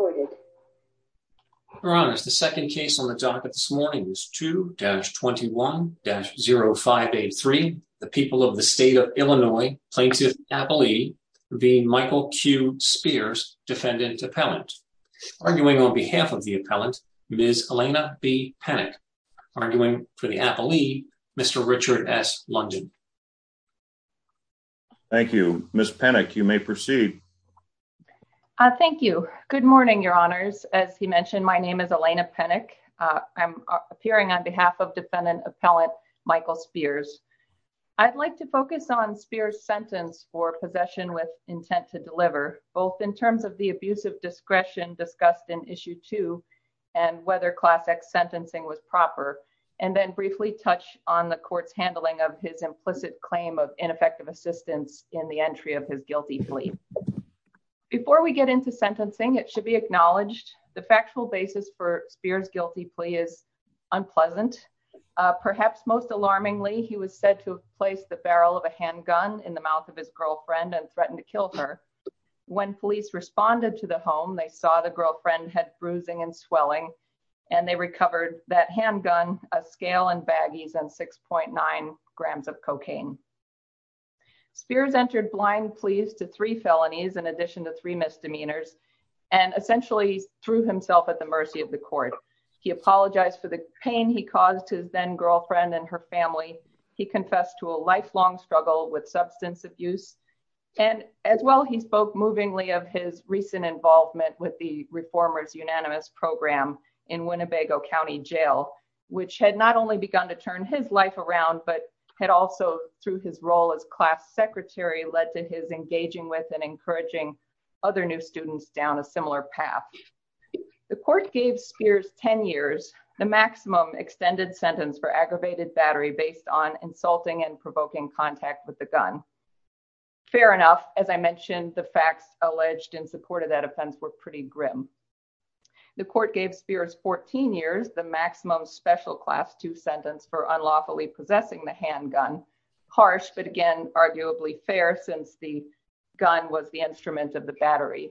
Your Honor, the second case on the docket this morning is 2-21-0583. The people of the state of Illinois plaintiff appellee v. Michael Q. Spears, defendant-appellant. Arguing on behalf of the appellant, Ms. Elena B. Panik. Arguing for the appellee, Mr. Richard S. London. Thank you. Ms. Panik, you may proceed. Thank you. Good morning, Your Honors. As he mentioned, my name is Elena Panik. I'm appearing on behalf of defendant-appellant Michael Spears. I'd like to focus on Spears' sentence for possession with intent to deliver, both in terms of the abuse of discretion discussed in Issue 2, and whether Class X sentencing was proper, and then briefly touch on the court's handling of his implicit claim of ineffective assistance in the entry of his guilty plea. Before we get into sentencing, it should be acknowledged the factual basis for Spears' guilty plea is unpleasant. Perhaps most alarmingly, he was said to have placed the barrel of a handgun in the mouth of his girlfriend and threatened to kill her. When police responded to the home, they saw the girlfriend had bruising and swelling, and they recovered that handgun, a scale and baggies, and 6.9 grams of cocaine. Spears entered blind pleas to three felonies, in addition to three misdemeanors, and essentially threw himself at the mercy of the court. He apologized for the pain he caused his then-girlfriend and her family. He confessed to a lifelong struggle with substance abuse. And as well, he spoke movingly of his recent involvement with the Reformers' Unanimous Program in Winnebago County Jail, which had not only begun to turn his life around, but had also, through his role as class secretary, led to his engaging with and encouraging other new students down a similar path. The court gave Spears 10 years, the maximum extended sentence for aggravated battery based on insulting and provoking contact with the gun. Fair enough. As I mentioned, the facts alleged in support of that offense were pretty grim. The court gave Spears 14 years, the maximum special class 2 sentence for unlawfully possessing the handgun. Harsh, but again, arguably fair, since the gun was the instrument of the battery.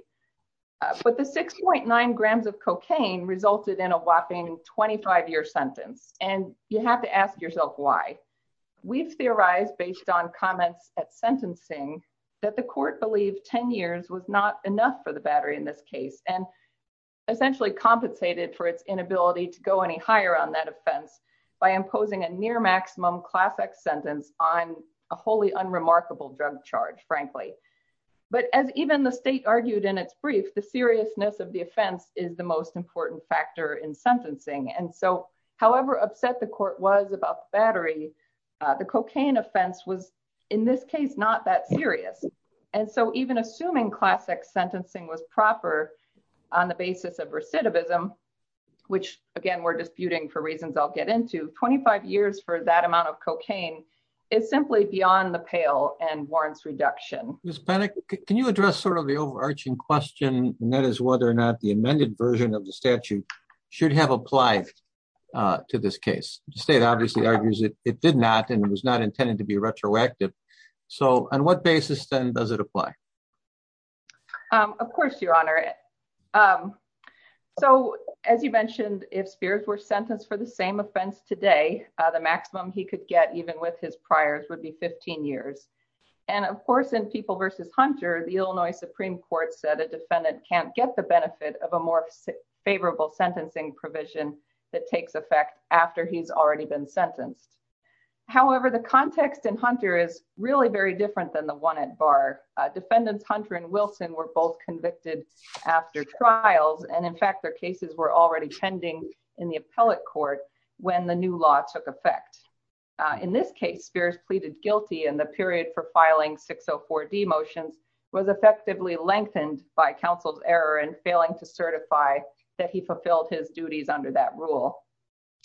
But the 6.9 grams of cocaine resulted in a whopping 25-year sentence. And you have to ask yourself why. We've theorized, based on comments at sentencing, that the court believed 10 years was not enough for the battery in this case. And essentially compensated for its inability to go any higher on that offense by imposing a near maximum class X sentence on a wholly unremarkable drug charge, frankly. But as even the state argued in its brief, the seriousness of the offense is the most important factor in sentencing. And so, however upset the court was about the battery, the cocaine offense was, in this case, not that serious. And so even assuming class X sentencing was proper on the basis of recidivism, which, again, we're disputing for reasons I'll get into, 25 years for that amount of cocaine is simply beyond the pale and warrants reduction. Ms. Panik, can you address sort of the overarching question, and that is whether or not the amended version of the statute should have applied to this case? The state obviously argues it did not, and it was not intended to be retroactive. So on what basis, then, does it apply? Of course, Your Honor. So, as you mentioned, if Spears were sentenced for the same offense today, the maximum he could get, even with his priors, would be 15 years. And, of course, in People v. Hunter, the Illinois Supreme Court said a defendant can't get the benefit of a more favorable sentencing provision that takes effect after he's already been sentenced. However, the context in Hunter is really very different than the one at Barr. Defendants Hunter and Wilson were both convicted after trials, and, in fact, their cases were already pending in the appellate court when the new law took effect. In this case, Spears pleaded guilty, and the period for filing 604-D motions was effectively lengthened by counsel's error in failing to certify that he fulfilled his duties under that rule.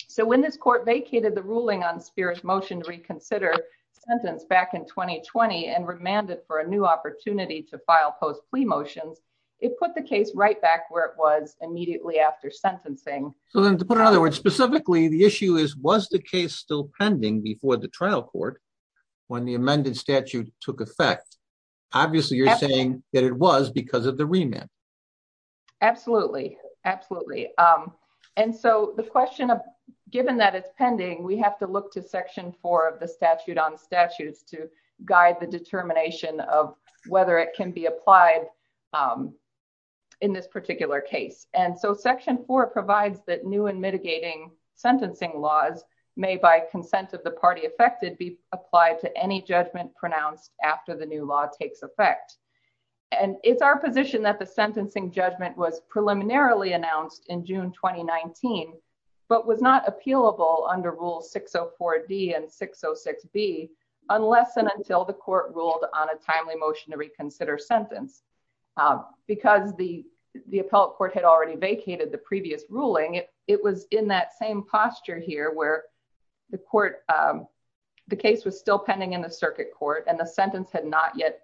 So when this court vacated the ruling on Spears' motion to reconsider sentence back in 2020 and remanded for a new opportunity to file post-plea motions, it put the case right back where it was immediately after sentencing. So then, to put it another way, specifically, the issue is, was the case still pending before the trial court when the amended statute took effect? Obviously, you're saying that it was because of the remand. Absolutely. Absolutely. And so the question, given that it's pending, we have to look to Section 4 of the Statute on Statutes to guide the determination of whether it can be applied in this particular case. And so Section 4 provides that new and mitigating sentencing laws may, by consent of the party affected, be applied to any judgment pronounced after the new law takes effect. And it's our position that the sentencing judgment was preliminarily announced in June 2019, but was not appealable under Rule 604-D and 606-B unless and until the court ruled on a timely motion to reconsider sentence. Because the appellate court had already vacated the previous ruling, it was in that same posture here where the court, the case was still pending in the circuit court and the sentence had not yet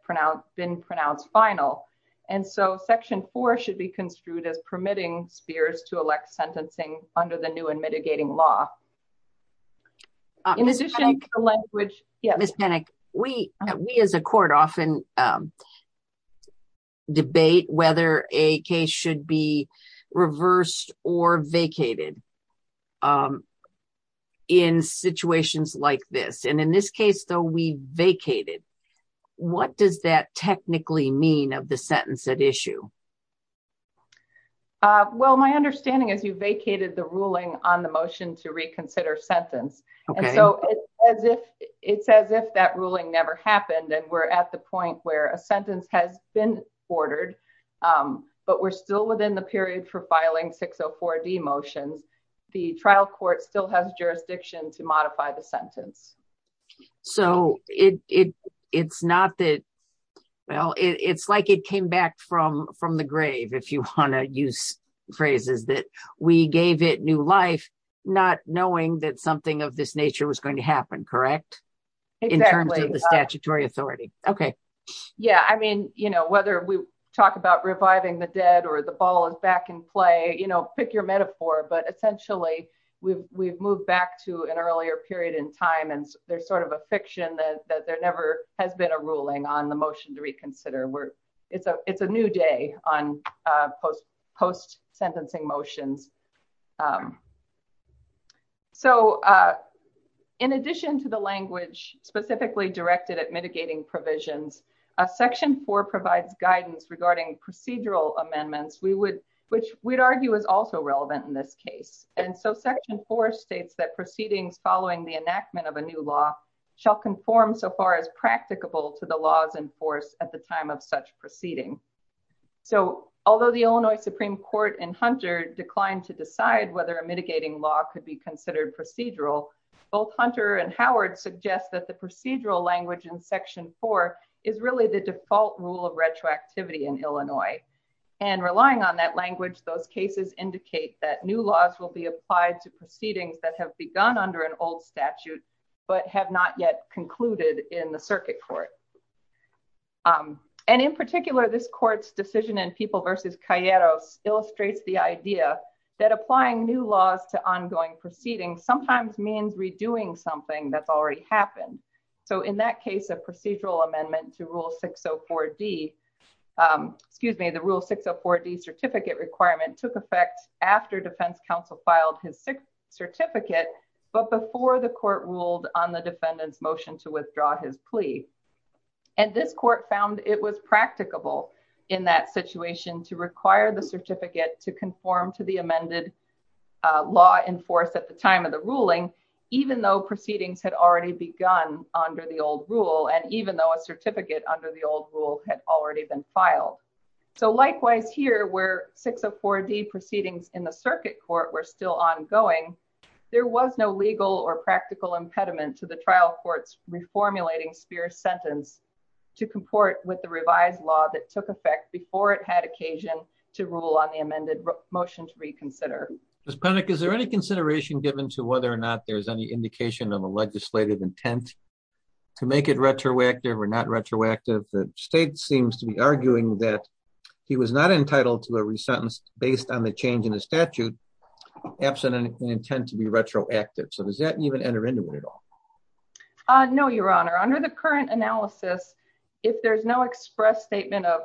been pronounced final. And so Section 4 should be construed as permitting spheres to elect sentencing under the new and mitigating law. In addition to the language. Ms. Panik, we as a court often debate whether a case should be reversed or vacated in situations like this. And in this case, though, we vacated. What does that technically mean of the sentence at issue? Well, my understanding is you vacated the ruling on the motion to reconsider sentence. And so it's as if that ruling never happened and we're at the point where a sentence has been ordered, but we're still within the period for filing 604-D motions. The trial court still has jurisdiction to modify the sentence. So it it's not that. Well, it's like it came back from from the grave, if you want to use phrases that we gave it new life, not knowing that something of this nature was going to happen. Correct. In terms of the statutory authority. OK. Yeah. I mean, you know, whether we talk about reviving the dead or the ball is back in play, you know, pick your metaphor. But essentially we've we've moved back to an earlier period in time. And there's sort of a fiction that there never has been a ruling on the motion to reconsider. It's a it's a new day on post post sentencing motions. So in addition to the language specifically directed at mitigating provisions, Section four provides guidance regarding procedural amendments we would which we'd argue is also relevant in this case. And so Section four states that proceedings following the enactment of a new law shall conform so far as practicable to the laws in force at the time of such proceeding. So although the Illinois Supreme Court and Hunter declined to decide whether a mitigating law could be considered procedural, both Hunter and Howard suggest that the procedural language in Section four is really the default rule of retroactivity in Illinois. And relying on that language, those cases indicate that new laws will be applied to proceedings that have begun under an old statute, but have not yet concluded in the circuit court. And in particular, this court's decision in People vs. Cayetos illustrates the idea that applying new laws to ongoing proceedings sometimes means redoing something that's already happened. So in that case, a procedural amendment to Rule 604D, excuse me, the Rule 604D certificate requirement took effect after defense counsel filed his certificate, but before the court ruled on the defendant's motion to withdraw his plea. And this court found it was practicable in that situation to require the certificate to conform to the amended law in force at the time of the ruling, even though proceedings had already begun under the old rule, and even though a certificate under the old rule had already been filed. So likewise here, where 604D proceedings in the circuit court were still ongoing, there was no legal or practical impediment to the trial court's reformulating Spear's sentence to comport with the revised law that took effect before it had occasion to rule on the amended motion to reconsider. Is there any consideration given to whether or not there's any indication of a legislative intent to make it retroactive or not retroactive? The state seems to be arguing that he was not entitled to a re-sentence based on the change in the statute, absent an intent to be retroactive. So does that even enter into it at all? No, Your Honor. Under the current analysis, if there's no express statement of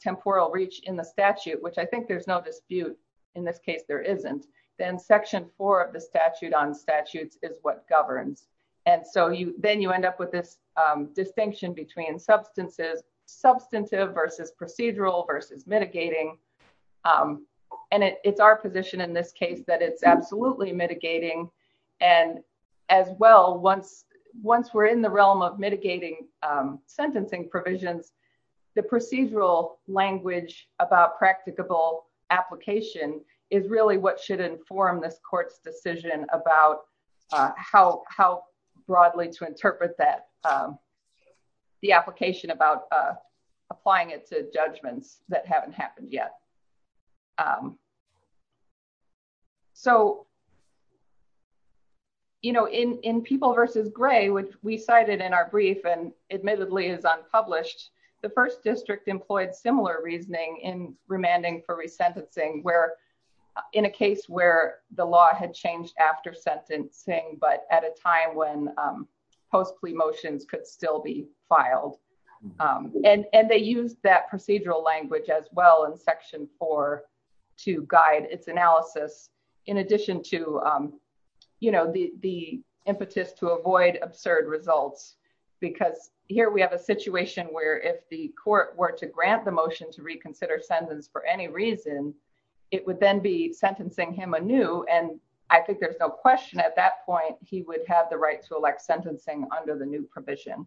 temporal reach in the statute, which I think there's no dispute in this case there isn't, then section four of the statute on statutes is what governs. And so then you end up with this distinction between substantive versus procedural versus mitigating. And it's our position in this case that it's absolutely mitigating. And as well, once we're in the realm of mitigating sentencing provisions, the procedural language about practicable application is really what should inform this court's decision about how broadly to interpret the application about applying it to judgments that haven't happened yet. So, you know, in People v. Gray, which we cited in our brief and admittedly is unpublished, the first district employed similar reasoning in remanding for re-sentencing where in a case where the law had changed after sentencing, but at a time when post plea motions could still be filed. And they used that procedural language as well in section four to guide its analysis, in addition to, you know, the impetus to avoid absurd results. Because here we have a situation where if the court were to grant the motion to reconsider sentence for any reason, it would then be sentencing him anew. And I think there's no question at that point, he would have the right to elect sentencing under the new provision.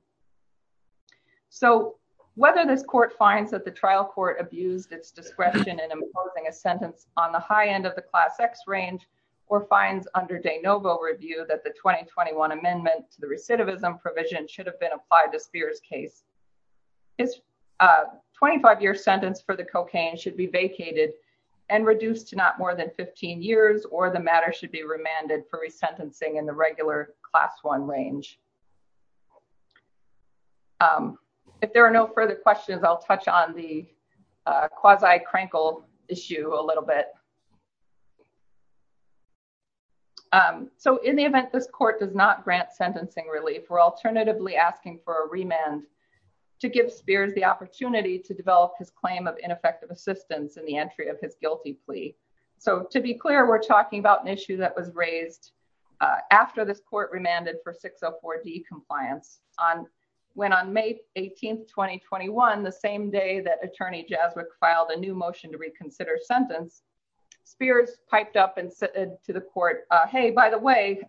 So whether this court finds that the trial court abused its discretion in imposing a sentence on the high end of the class X range or finds under de novo review that the 2021 amendment to the recidivism provision should have been applied to Spears case, his 25 year sentence for the cocaine should be vacated and reduced to not more than 15 years or the matter should be remanded for re-sentencing in the regular class one range. If there are no further questions, I'll touch on the quasi-crankle issue a little bit. So in the event this court does not grant sentencing relief, we're alternatively asking for a remand to give Spears the opportunity to develop his claim of ineffective assistance in the entry of his guilty plea. So to be clear, we're talking about an issue that was raised after this court remanded for 604D compliance. When on May 18, 2021, the same day that attorney Jaswik filed a new motion to reconsider sentence, Spears piped up and said to the court, hey, by the way,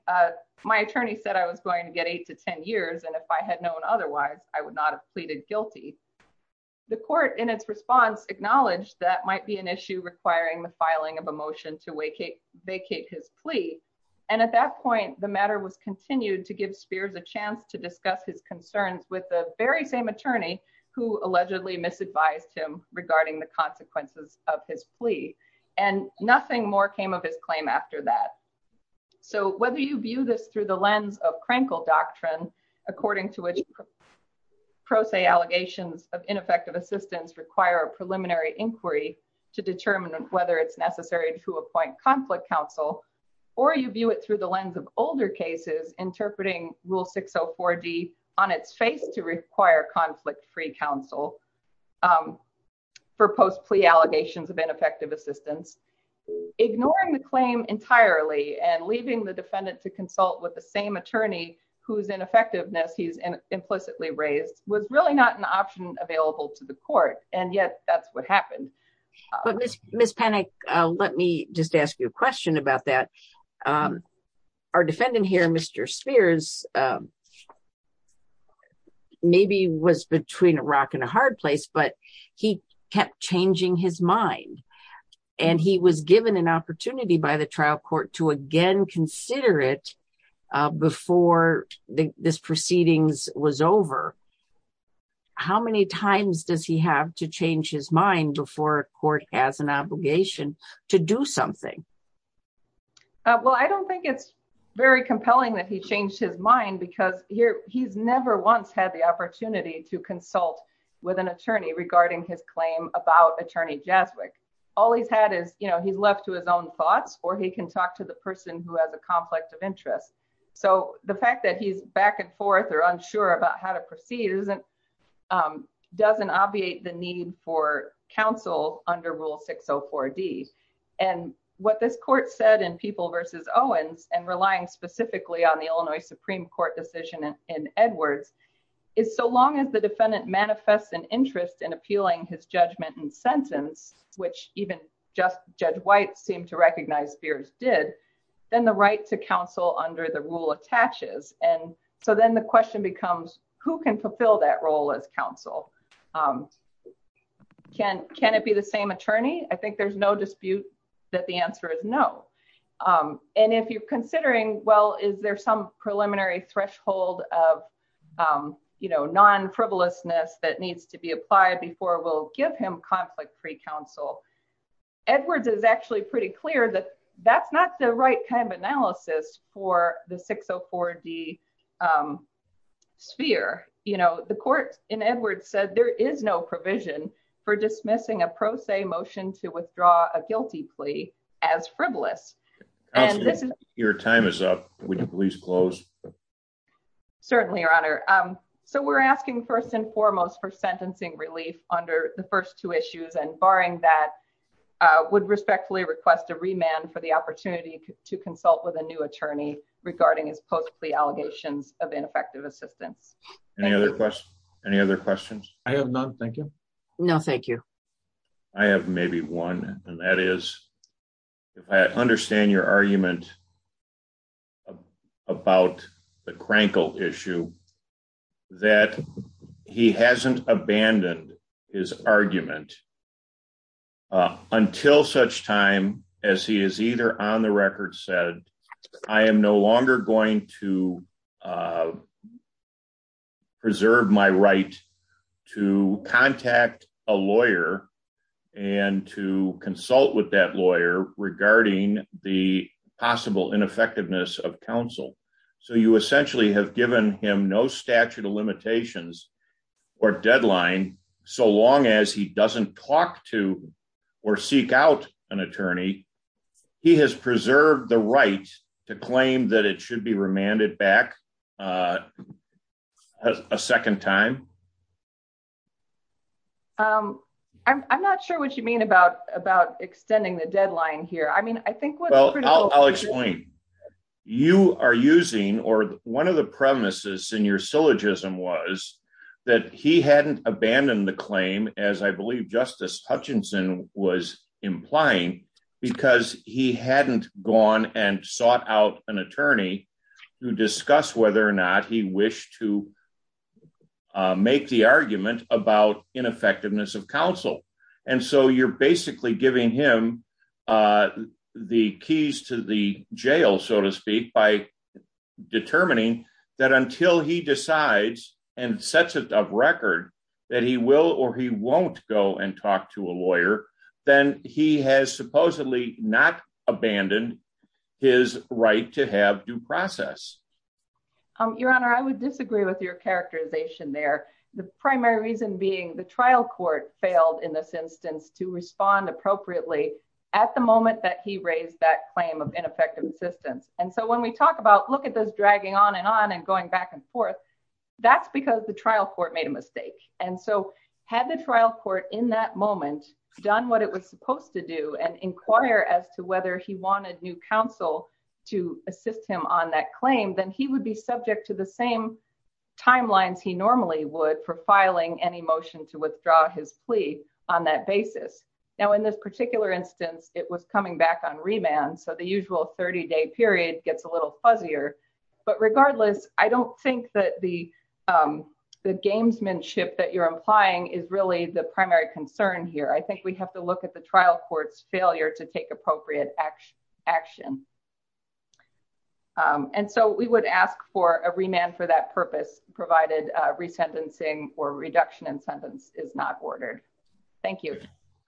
my attorney said I was going to get eight to 10 years. And if I had known otherwise, I would not have pleaded guilty. The court in its response acknowledged that might be an issue requiring the filing of a motion to vacate his plea. And at that point, the matter was continued to give Spears a chance to discuss his concerns with the very same attorney who allegedly misadvised him regarding the consequences of his plea. And nothing more came of his claim after that. So whether you view this through the lens of Krenkel doctrine, according to which pro se allegations of ineffective assistance require a preliminary inquiry to determine whether it's necessary to appoint conflict counsel, or you view it through the lens of older cases interpreting rule 604D on its face to require conflict free counsel for post plea allegations of ineffective assistance, ignoring the claim entirely and leaving the defendant to consult with the same attorney whose ineffectiveness he's implicitly raised was really not an option available to the court. And yet, that's what happened. But Miss Panik, let me just ask you a question about that. Our defendant here, Mr. Spears, maybe was between a rock and a hard place, but he kept changing his mind. And he was given an opportunity by the trial court to again consider it before this proceedings was over. How many times does he have to change his mind before court has an obligation to do something? Well, I don't think it's very compelling that he changed his mind because here he's never once had the opportunity to consult with an attorney regarding his claim about attorney Jaswik. All he's had is, you know, he's left to his own thoughts, or he can talk to the person who has a conflict of interest. So the fact that he's back and forth or unsure about how to proceed doesn't obviate the need for counsel under Rule 604D. And what this court said in People v. Owens and relying specifically on the Illinois Supreme Court decision in Edwards is so long as the defendant manifests an interest in appealing his judgment and sentence, which even just Judge White seemed to recognize Spears did, then the right to counsel under the rule attaches. And so then the question becomes, who can fulfill that role as counsel? Can it be the same attorney? I think there's no dispute that the answer is no. And if you're considering, well, is there some preliminary threshold of, you know, non-frivolousness that needs to be applied before we'll give him conflict-free counsel, Edwards is actually pretty clear that that's not the right kind of analysis for the 604D sphere. You know, the court in Edwards said there is no provision for dismissing a pro se motion to withdraw a guilty plea as frivolous. Counsel, your time is up. Would you please close? Certainly, Your Honor. So we're asking first and foremost for sentencing relief under the first two issues. And barring that, would respectfully request a remand for the opportunity to consult with a new attorney regarding his post-plea allegations of ineffective assistance. Any other questions? I have none. Thank you. No, thank you. I have maybe one, and that is, if I understand your argument about the Crankle issue, that he hasn't abandoned his argument until such time as he is either on the record said, I am no longer going to preserve my right to contact a lawyer and to consult with that lawyer regarding the possible ineffectiveness of counsel. So you essentially have given him no statute of limitations or deadline so long as he doesn't talk to or seek out an attorney. He has preserved the right to claim that it should be remanded back a second time. I'm not sure what you mean about extending the deadline here. I mean, I think what I'll explain. One of the premises in your syllogism was that he hadn't abandoned the claim, as I believe Justice Hutchinson was implying, because he hadn't gone and sought out an attorney to discuss whether or not he wished to make the argument about ineffectiveness of counsel. And so you're basically giving him the keys to the jail, so to speak, by determining that until he decides and sets it up record that he will or he won't go and talk to a lawyer, then he has supposedly not abandoned his right to have due process. Your Honor, I would disagree with your characterization there. The primary reason being the trial court failed in this instance to respond appropriately at the moment that he raised that claim of ineffective assistance. And so when we talk about look at those dragging on and on and going back and forth, that's because the trial court made a mistake. And so had the trial court in that moment done what it was supposed to do and inquire as to whether he wanted new counsel to assist him on that claim, then he would be subject to the same timelines he normally would for filing any motion to withdraw his plea on that basis. Now, in this particular instance, it was coming back on remand. So the usual 30 day period gets a little fuzzier. But regardless, I don't think that the gamesmanship that you're implying is really the primary concern here. I think we have to look at the trial court's failure to take appropriate action. And so we would ask for a remand for that purpose, provided resentencing or reduction in sentence is not ordered. Thank you.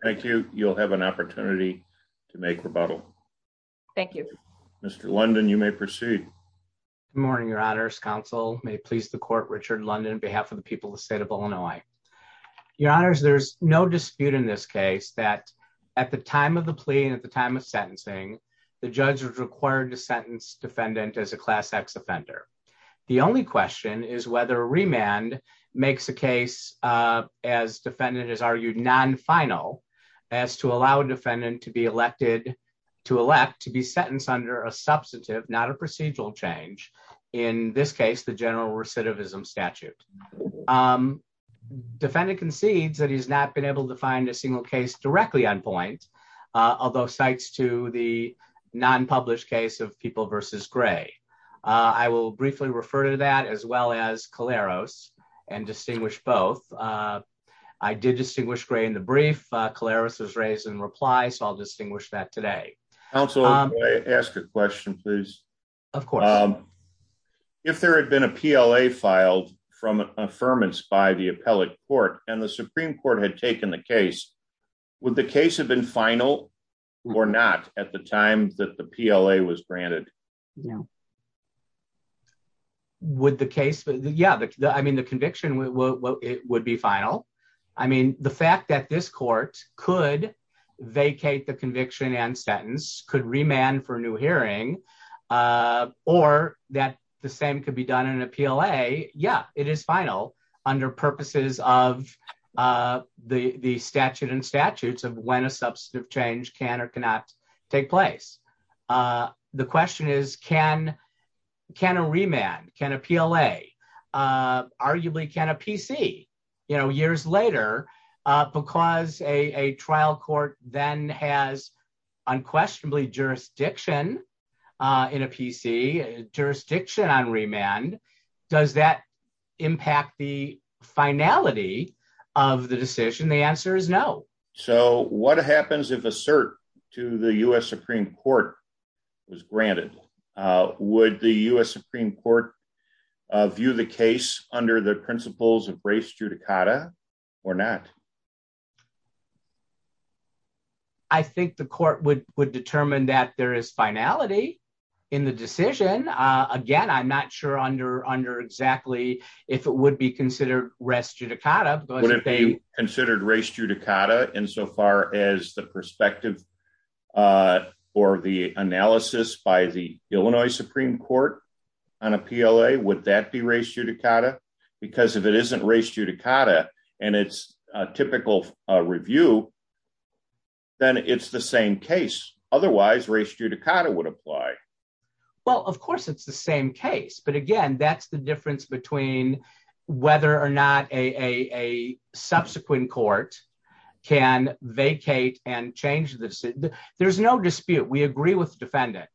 Thank you. You'll have an opportunity to make rebuttal. Thank you. Mr. London, you may proceed. Morning, Your Honor's counsel may please the court Richard London behalf of the people of the state of Illinois. Your Honor's there's no dispute in this case that at the time of the plea at the time of sentencing, the judge was required to sentence defendant as a class x offender. The only question is whether remand makes a case as defendant is argued non final as to allow defendant to be elected to elect to be sentenced under a substantive not a procedural change. In this case, the general recidivism statute. Defendant concedes that he's not been able to find a single case directly on point, although cites to the non published case of people versus gray. I will briefly refer to that as well as Caleros and distinguish both. I did distinguish gray in the brief clarity was raised in reply so I'll distinguish that today. Also, ask a question, please. Of course. If there had been a PLA filed from affirmance by the appellate court, and the Supreme Court had taken the case with the case have been final, or not, at the time that the PLA was granted. No. Would the case. Yeah, I mean the conviction, it would be final. I mean, the fact that this court could vacate the conviction and sentence could remand for new hearing, or that the same could be done in a PLA, yeah, it is final. Under purposes of the the statute and statutes of when a substantive change can or cannot take place. The question is, can, can a remand can appeal a arguably can a PC, you know, years later, because a trial court, then has unquestionably jurisdiction in a PC jurisdiction on remand. Does that impact the finality of the decision the answer is no. So what happens if assert to the US Supreme Court was granted. Would the US Supreme Court view the case under the principles of race judicata, or not. I think the court would would determine that there is finality in the decision. Again, I'm not sure under under exactly, if it would be considered rest you to kind of considered race judicata in so far as the perspective for the analysis by the Illinois Supreme Court on a PLA would that be ratio to Kata, because if it isn't race judicata, and it's to the extent that it is. In a typical review. Then it's the same case, otherwise race judicata would apply. Well, of course it's the same case but again that's the difference between whether or not a subsequent court can vacate and change this. There's no dispute we agree with defendant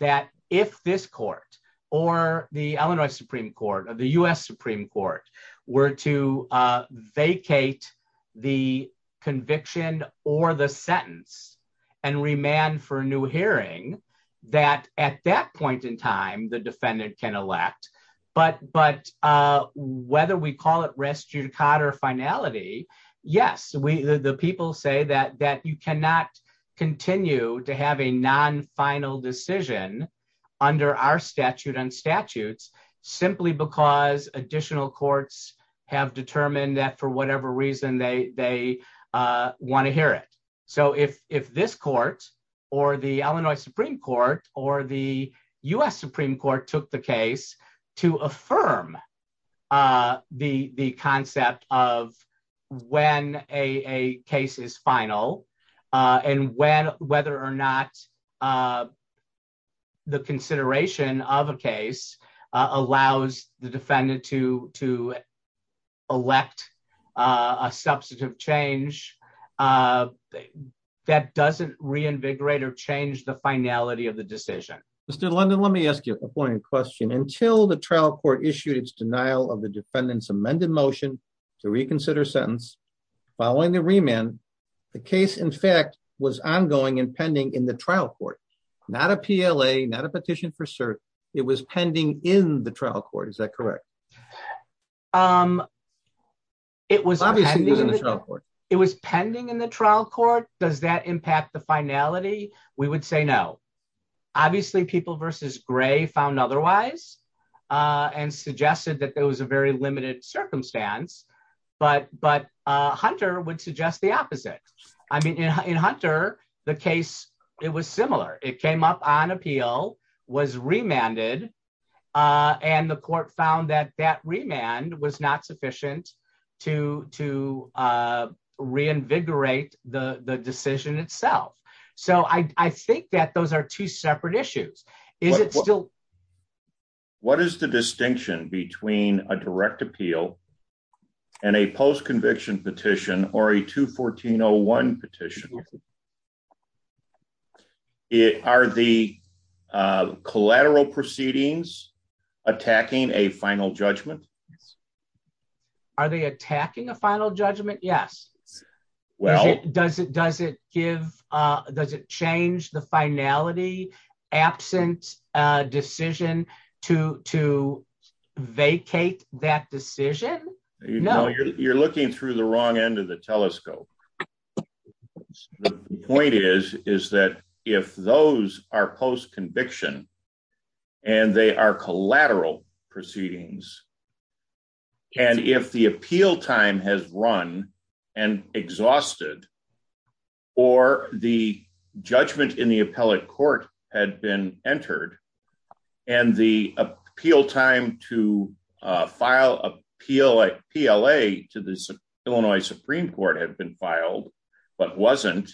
that if this court, or the Illinois Supreme Court of the US Supreme Court were to vacate the conviction, or the sentence and remand for a new hearing that at that point in time the defendant can elect, but but whether we continue to have a non final decision under our statute and statutes, simply because additional courts have determined that for whatever reason they they want to hear it. So if, if this court, or the Illinois Supreme Court, or the US Supreme Court took the case to affirm the the concept of when a case is final. And when, whether or not the consideration of a case allows the defendant to to elect a substantive change that doesn't reinvigorate or change the finality of the decision. Mr London let me ask you a question until the trial court issued its denial of the defendants amended motion to reconsider sentence. Following the remand. The case in fact was ongoing and pending in the trial court, not a PLA not a petition for cert. It was pending in the trial court is that correct. Um, it was, it was pending in the trial court, does that impact the finality, we would say no. Obviously people versus gray found otherwise, and suggested that there was a very limited circumstance, but but Hunter would suggest the opposite. I mean in Hunter, the case, it was similar, it came up on appeal was remanded. And the court found that that remand was not sufficient to to reinvigorate the decision itself. So I think that those are two separate issues. Is it still. What is the distinction between a direct appeal. And a post conviction petition or a to 1401 petition. It are the collateral proceedings, attacking a final judgment. Are they attacking a final judgment. Yes. Well, does it does it give. Does it change the finality absent decision to to vacate that decision. You're looking through the wrong end of the telescope point is, is that if those are post conviction, and they are collateral proceedings. And if the appeal time has run and exhausted, or the judgment in the appellate court had been entered. And the appeal time to file a PLA PLA to the Illinois Supreme Court had been filed, but wasn't.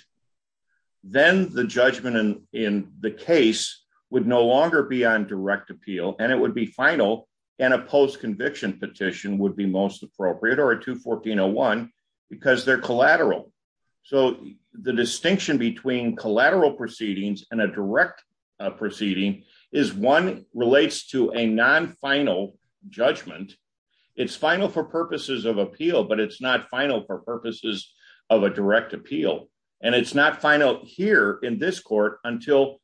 Then the judgment and in the case would no longer be on direct appeal and it would be final and a post conviction petition would be most appropriate or to 1401, because they're collateral. So, the distinction between collateral proceedings and a direct proceeding is one relates to a non final judgment. It's final for purposes of appeal but it's not final for purposes of a direct appeal, and it's not final here in this court until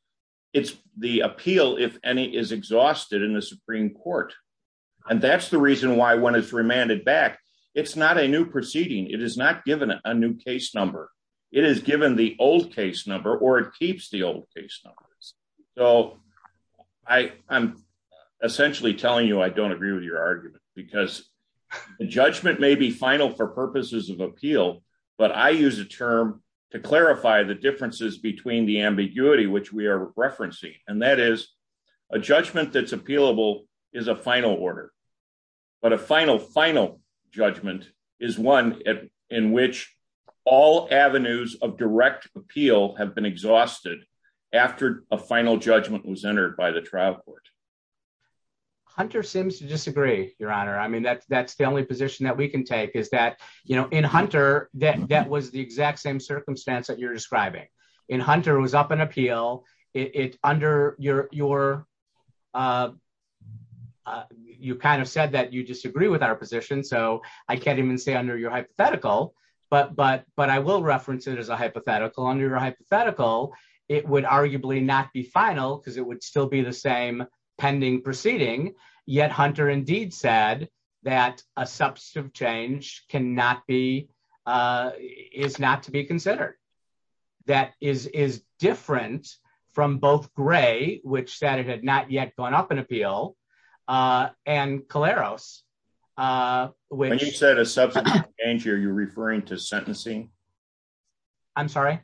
it's the appeal if any is exhausted in the Supreme Court. And that's the reason why when it's remanded back. It's not a new proceeding, it is not given a new case number. It is given the old case number or it keeps the old case numbers. So, I am essentially telling you I don't agree with your argument, because the judgment may be final for purposes of appeal, but I use a term to clarify the differences between the ambiguity which we are referencing, and that is a judgment that's been exhausted. After a final judgment was entered by the trial court. Hunter seems to disagree, Your Honor, I mean that's that's the only position that we can take is that, you know, in Hunter, that that was the exact same circumstance that you're describing in Hunter was up an appeal it under your, your. You kind of said that you disagree with our position so I can't even say under your hypothetical, but but but I will reference it as a hypothetical under hypothetical, it would arguably not be final because it would still be the same pending proceeding yet Hunter indeed said that a substantive change cannot be is not to be considered. That is is different from both gray, which said it had not yet gone up and appeal and Clara's. When you said a substitute, are you referring to sentencing. I'm sorry.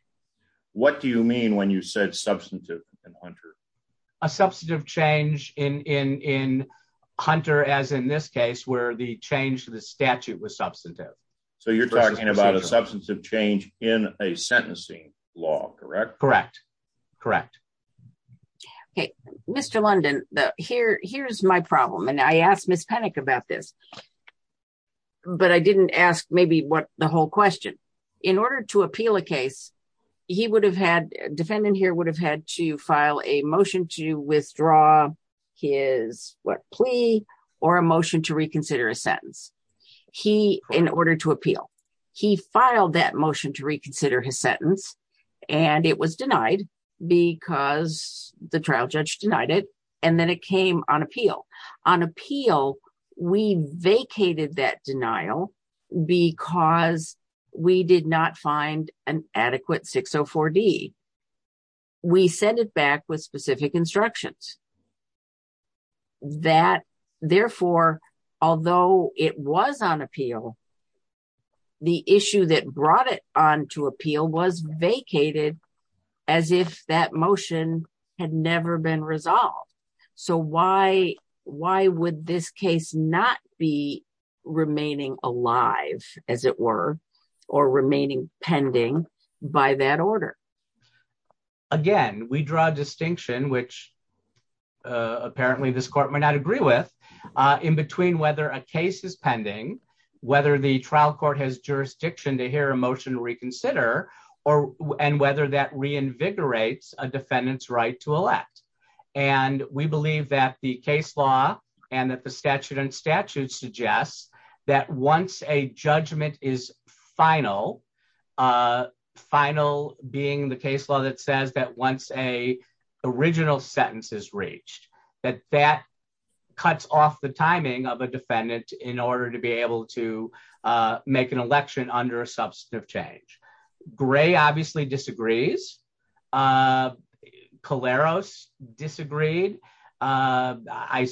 What do you mean when you said substantive and 100. A substantive change in in in Hunter as in this case where the change the statute was substantive. So you're talking about a substantive change in a sentencing law, correct, correct, correct. Okay, Mr London, the here, here's my problem and I asked Miss panic about this. But I didn't ask maybe what the whole question. In order to appeal a case, he would have had defendant here would have had to file a motion to withdraw his what plea or emotion to reconsider a sentence. He, in order to appeal. He filed that motion to reconsider his sentence, and it was denied, because the trial judge denied it. And then it came on appeal on appeal. We vacated that denial, because we did not find an adequate 604 D. We send it back with specific instructions. That, therefore, although it was on appeal. The issue that brought it on to appeal was vacated, as if that motion had never been resolved. So why, why would this case not be remaining alive, as it were, or remaining pending by that order. Again, we draw a distinction which apparently this court may not agree with in between whether a case is pending, whether the trial court has jurisdiction to hear emotion reconsider or, and whether that reinvigorates a defendant's right to elect. And we believe that the case law, and that the statute and statute suggests that once a judgment is final, a final being the case law that says that once a original sentences reached that that cuts off the timing of a defendant in order to be able to make an disagreed. I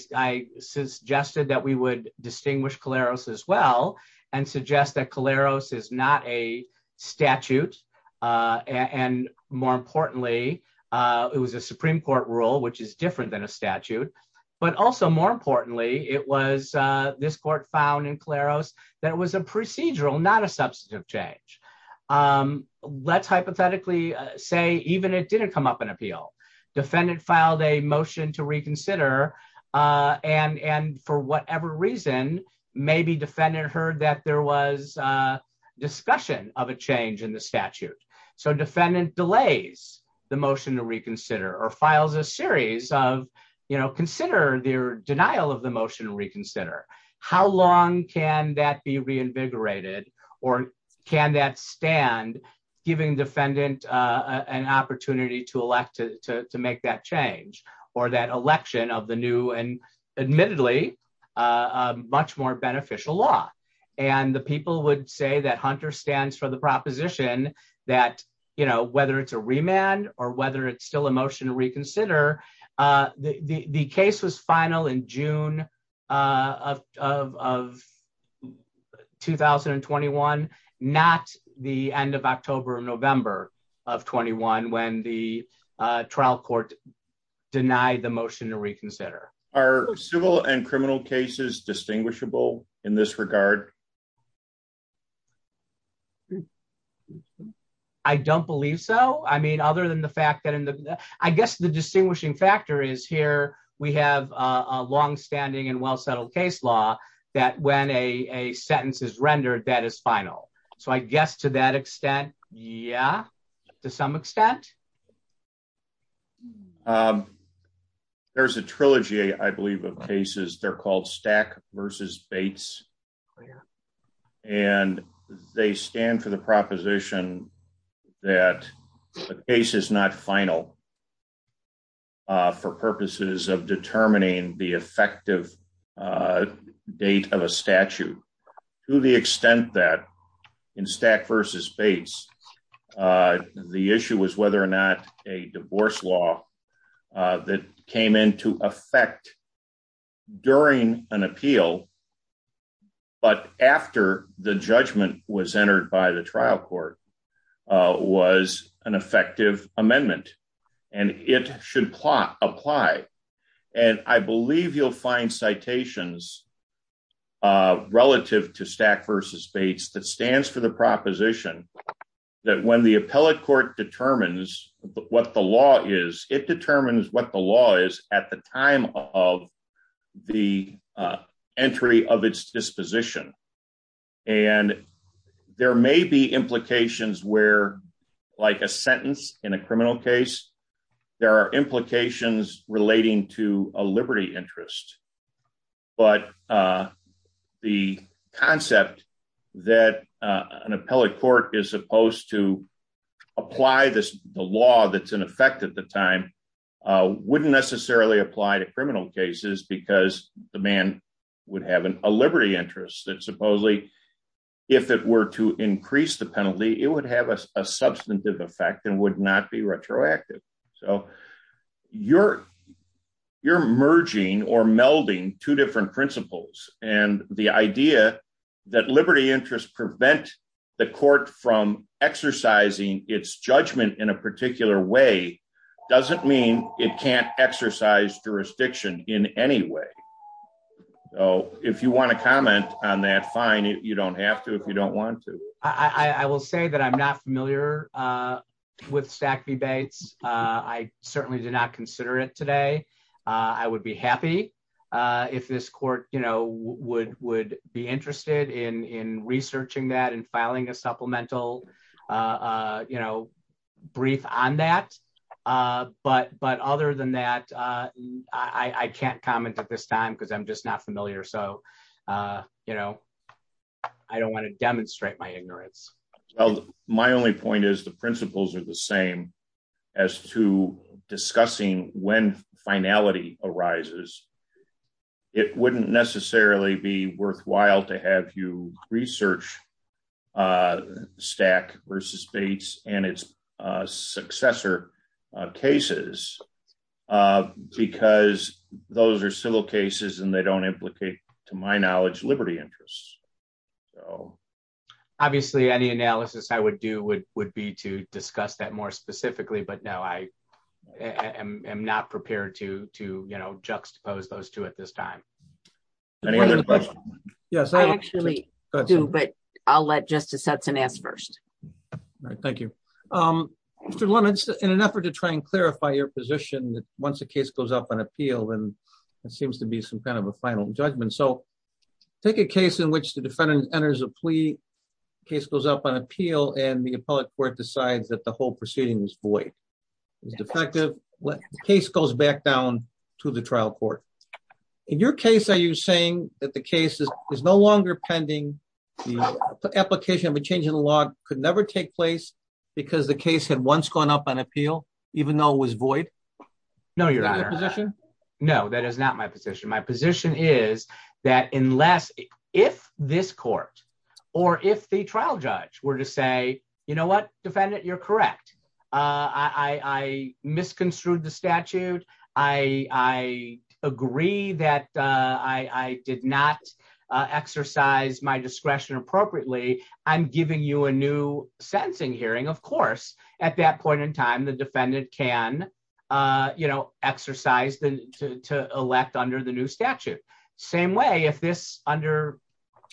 suggested that we would distinguish Clara's as well, and suggest that Clara's is not a statute. And more importantly, it was a Supreme Court rule which is different than a statute, but also more importantly, it was this court found in Clara's, that was a procedural not a substantive change. Let's hypothetically say even it didn't come up an appeal defendant filed a motion to reconsider and and for whatever reason, maybe defendant heard that there was a discussion of a change in the statute. So defendant delays, the motion to reconsider or files a series of, you know, consider their denial of the motion reconsider how long can that be reinvigorated, or can that stand, giving defendant, an opportunity to elect to make that change, or that whether it's a remand, or whether it's still a motion to reconsider the case was final in June of 2021, not the end of October November of 21 when the trial court denied the motion to reconsider our civil and criminal cases distinguishable in this regard. I don't believe so. I mean, other than the fact that in the, I guess the distinguishing factor is here, we have a long standing and well settled case law that when a sentence is rendered that is final. So I guess to that extent, yeah, to some extent, there's a trilogy I believe of cases they're called stack versus Bates. And they stand for the proposition that a case is not final for purposes of determining the effective date of a statute, to the extent that in stack versus Bates. The issue was whether or not a divorce law that came into effect during an appeal. But after the judgment was entered by the trial court was an effective amendment, and it should plot apply. And I believe you'll find citations relative to stack versus Bates that stands for the proposition that when the appellate court determines what the law is it determines what the law is at the time of the entry of its disposition. And there may be implications where, like a sentence in a criminal case, there are implications relating to a liberty interest. But the concept that an appellate court is supposed to apply this law that's in effect at the time wouldn't necessarily apply to criminal cases because the man would have a liberty interest that supposedly, if it were to increase the penalty, it would have a substantive effect and would not be retroactive. So, you're, you're merging or melding two different principles, and the idea that liberty interest prevent the court from exercising its judgment in a particular way doesn't mean it can't exercise jurisdiction in any way. Oh, if you want to comment on that fine you don't have to if you don't want to, I will say that I'm not familiar with stack the Bates, I certainly did not consider it today. I would be happy if this court, you know, would would be interested in researching that and filing a supplemental, you know, brief on that. But, but other than that, I can't comment at this time because I'm just not familiar so you know, I don't want to demonstrate my ignorance. My only point is the principles are the same as to discussing when finality arises. It wouldn't necessarily be worthwhile to have you research stack versus space, and its successor cases, because those are civil cases and they don't implicate, to my knowledge liberty interests. Obviously any analysis I would do would would be to discuss that more specifically but now I am not prepared to, to, you know, juxtapose those two at this time. Yes, I actually do but I'll let justice Hudson ass first. Thank you. In an effort to try and clarify your position that once the case goes up on appeal and it seems to be some kind of a final judgment so take a case in which the defendant enters a plea case goes up on appeal and the appellate court decides that the whole proceedings void is defective case goes back down to the trial court. In your case, are you saying that the case is no longer pending the application of a change in the law could never take place because the case had once gone up on appeal, even though was void. No, you're not. No, that is not my position my position is that unless if this court, or if the trial judge were to say, you know what, defendant you're correct. I misconstrued the statute. I agree that I did not exercise my discretion appropriately. I'm giving you a new sentencing hearing, of course, at that point in time the defendant can, you know, exercise the to elect under the new statute. Same way if this under,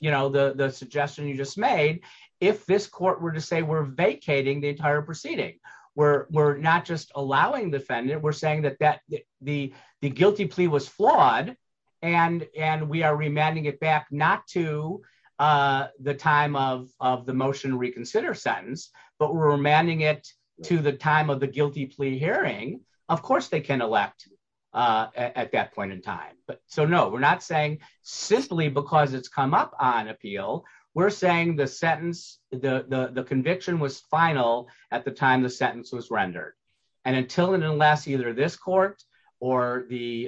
you know, the suggestion you just made. If this court were to say we're vacating the entire proceeding, we're, we're not just allowing defendant we're saying that that the, the guilty plea was flawed, and, and we are reminding it back not to the time of the motion reconsider sentence, but we're remanding it to the time of the guilty plea hearing, of course they can elect at that point in time, but so no we're not saying simply because it's come up on appeal. We're saying the sentence, the conviction was final at the time the sentence was rendered. And until and unless either this court, or the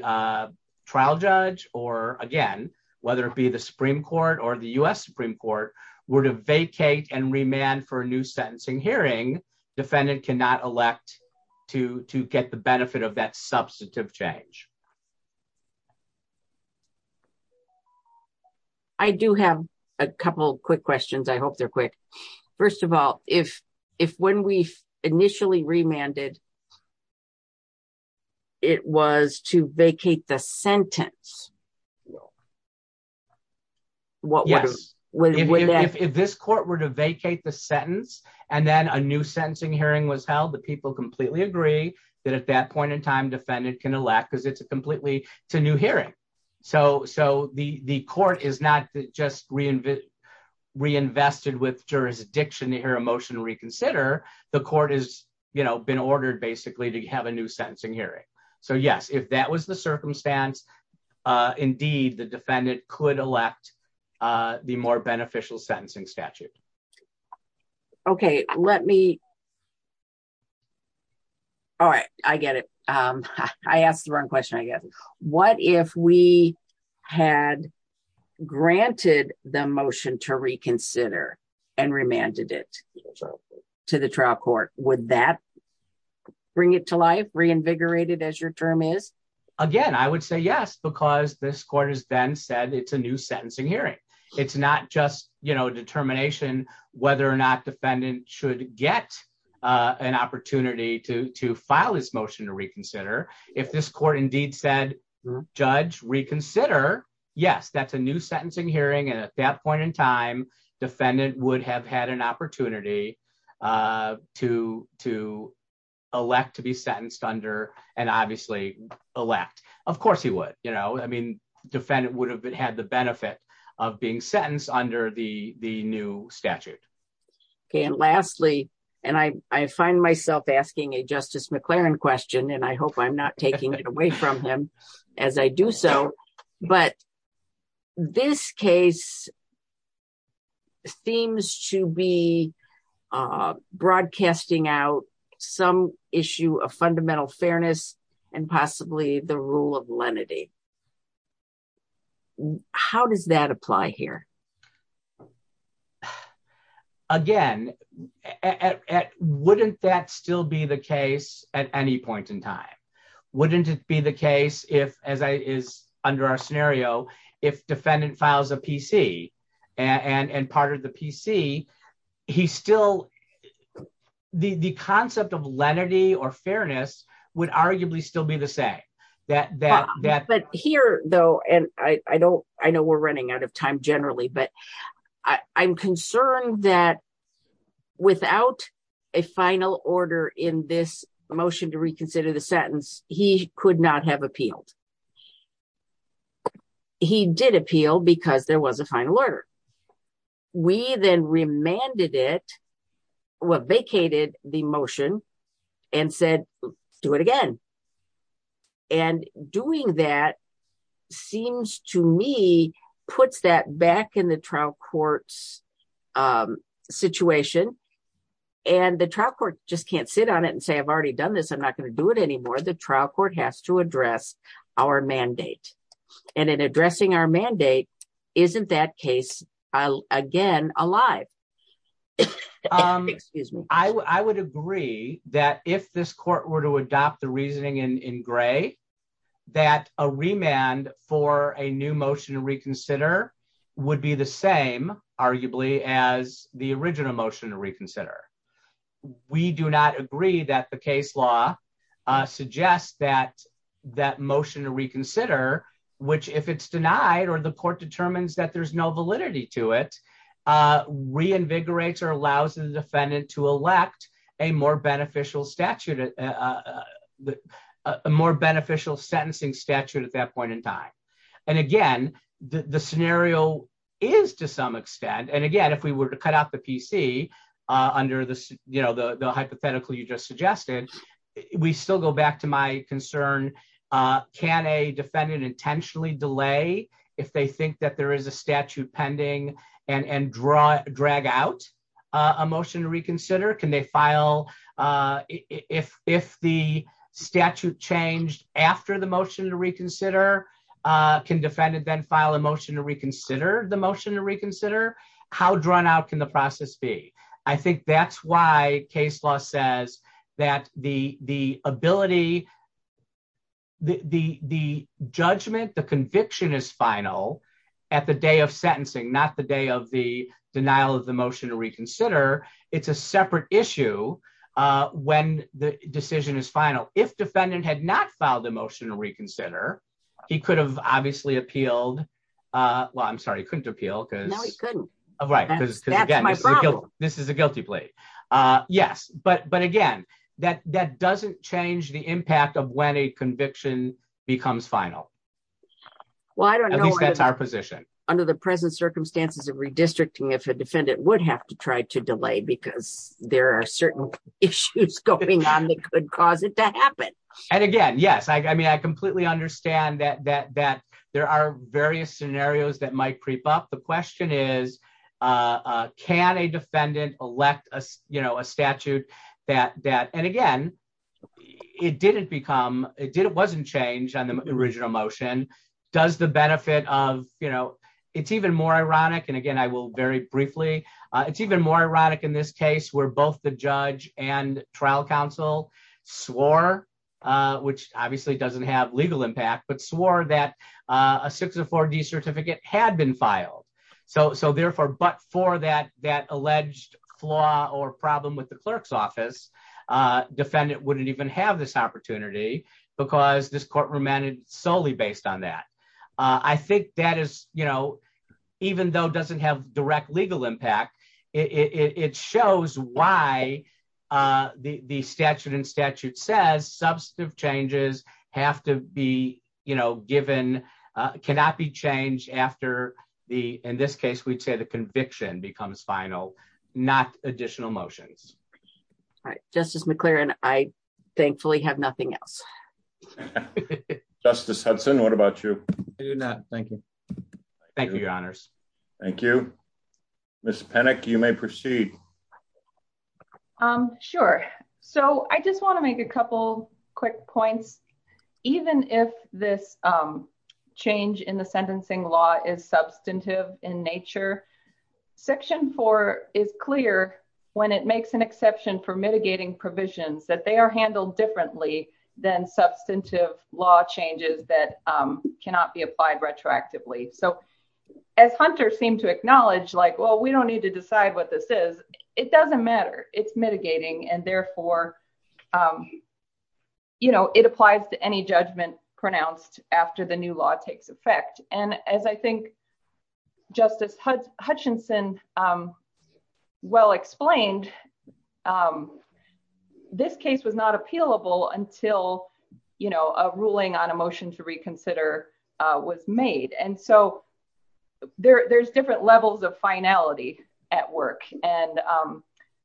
trial judge, or again, whether it be the Supreme Court or the US Supreme Court were to vacate and remand for a new sentencing hearing defendant cannot elect to get the benefit of that substantive change. I do have a couple quick questions I hope they're quick. First of all, if, if when we initially remanded. It was to vacate the sentence. What was, what if this court were to vacate the sentence, and then a new sentencing hearing was held the people completely agree that at that point in time defendant can elect because it's a completely to new hearing. So, so the the court is not just reinvent reinvested with jurisdiction to hear a motion reconsider the court is, you know, been ordered basically to have a new sentencing hearing. So yes, if that was the circumstance. Indeed, the defendant could elect the more beneficial sentencing statute. Okay, let me. All right, I get it. I asked the wrong question I guess. What if we had granted the motion to reconsider and remanded it to the trial court, would that bring it to life reinvigorated as your term is, again, I would say yes because this court has been said it's a new If this court indeed said, Judge reconsider. Yes, that's a new sentencing hearing and at that point in time, defendant would have had an opportunity to to elect to be sentenced under, and obviously elect, of course he would, you know, I mean, defendant would have had the benefit of being sentenced under the, the new statute. Okay. And lastly, and I find myself asking a justice McLaren question and I hope I'm not taking it away from him. As I do so, but this case. Seems to be broadcasting out some issue of fundamental fairness, and possibly the rule of lenity. How does that apply here. Again, at wouldn't that still be the case at any point in time. Wouldn't it be the case if, as I is under our scenario. If defendant files a PC and and part of the PC. He still the the concept of lenity or fairness would arguably still be the same that that that but here, though, and I don't, I know we're running out of time generally but I'm concerned that without a final order in this motion to reconsider the sentence, he could not have appealed. He did appeal because there was a final order. We then remanded it was vacated the motion and said, do it again. And doing that seems to me, puts that back in the trial courts situation. And the trial court just can't sit on it and say I've already done this I'm not going to do it anymore the trial court has to address our mandate, and in addressing our mandate. Isn't that case. I'll again alive. Excuse me, I would agree that if this court were to adopt the reasoning in gray, that a remand for a new motion to reconsider would be the same, arguably, as the original motion to reconsider. We do not agree that the case law suggests that that motion to reconsider, which if it's denied or the court determines that there's no validity to it reinvigorates or allows the defendant to elect a more beneficial statute. A more beneficial sentencing statute at that point in time. And again, the scenario is to some extent and again if we were to cut out the PC under this, you know, the hypothetical you just suggested, we still go back to my concern. Can a defendant intentionally delay, if they think that there is a statute pending and and draw drag out a motion to reconsider can they file. If, if the statute changed after the motion to reconsider can defend it then file a motion to reconsider the motion to reconsider how drawn out can the process be. I think that's why case law says that the, the ability. The, the, the judgment the conviction is final at the day of sentencing not the day of the denial of the motion to reconsider. It's a separate issue. When the decision is final if defendant had not filed a motion to reconsider. He could have obviously appealed. Well, I'm sorry couldn't appeal because of right because this is a guilty plea. Yes, but but again, that that doesn't change the impact of when a conviction becomes final. Well, I don't know our position under the present circumstances of redistricting if a defendant would have to try to delay because there are certain issues going on that could cause it to happen. And again, yes I mean I completely understand that that that there are various scenarios that might creep up the question is, can a defendant elect us, you know, a statute that that and again, it didn't become it didn't wasn't changed on the original motion, does the benefit of, you know, it's even more ironic and again I will very briefly. It's even more ironic in this case where both the judge and trial counsel swore, which obviously doesn't have legal impact but swore that a 604 D certificate had been filed. So, so therefore but for that that alleged flaw or problem with the clerk's office defendant wouldn't even have this opportunity, because this court remanded solely based on that. I think that is, you know, even though doesn't have direct legal impact. It shows why the statute and statute says substantive changes have to be, you know, given cannot be changed after the, in this case we take the conviction becomes final, not additional motions. Justice McLaren, I thankfully have nothing else. Justice Hudson What about you. Thank you. Thank you, Your Honors. Thank you. Miss panic you may proceed. I'm sure. So I just want to make a couple quick points. Even if this change in the sentencing law is substantive in nature. Section four is clear when it makes an exception for mitigating provisions that they are handled differently than substantive law changes that cannot be applied retroactively so as hunters seem to acknowledge like well we don't need to decide what this is. It doesn't matter. It's mitigating and therefore, you know, it applies to any judgment pronounced after the new law takes effect, and as I think. Justice Hutchinson. Well explained this case was not appealable until you know a ruling on emotion to reconsider was made and so there's different levels of finality at work. And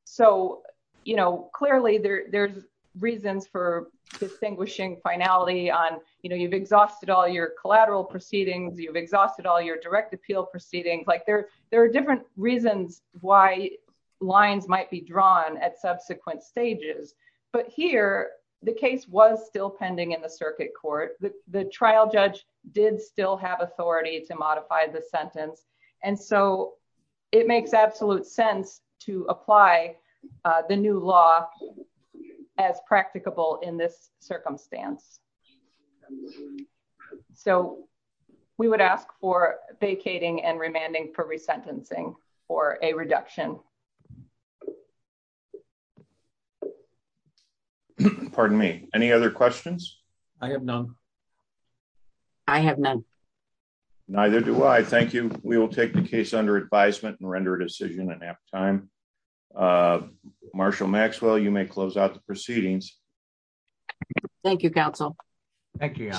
so, you know, clearly there's reasons for distinguishing finality on, you know, you've exhausted all your collateral proceedings you've exhausted all your direct appeal proceedings like there, there are different reasons why lines might be drawn at subsequent stages, but here, the case was still pending in the circuit court, the trial judge did still have authority to modify the sentence. And so it makes absolute sense to apply the new law as practicable in this circumstance. So, we would ask for vacating and remanding for resentencing, or a reduction. Pardon me, any other questions. I have none. I have none. Neither do I thank you, we will take the case under advisement and render decision and have time. Marshall Maxwell you may close out the proceedings. Thank you, counsel. Thank you.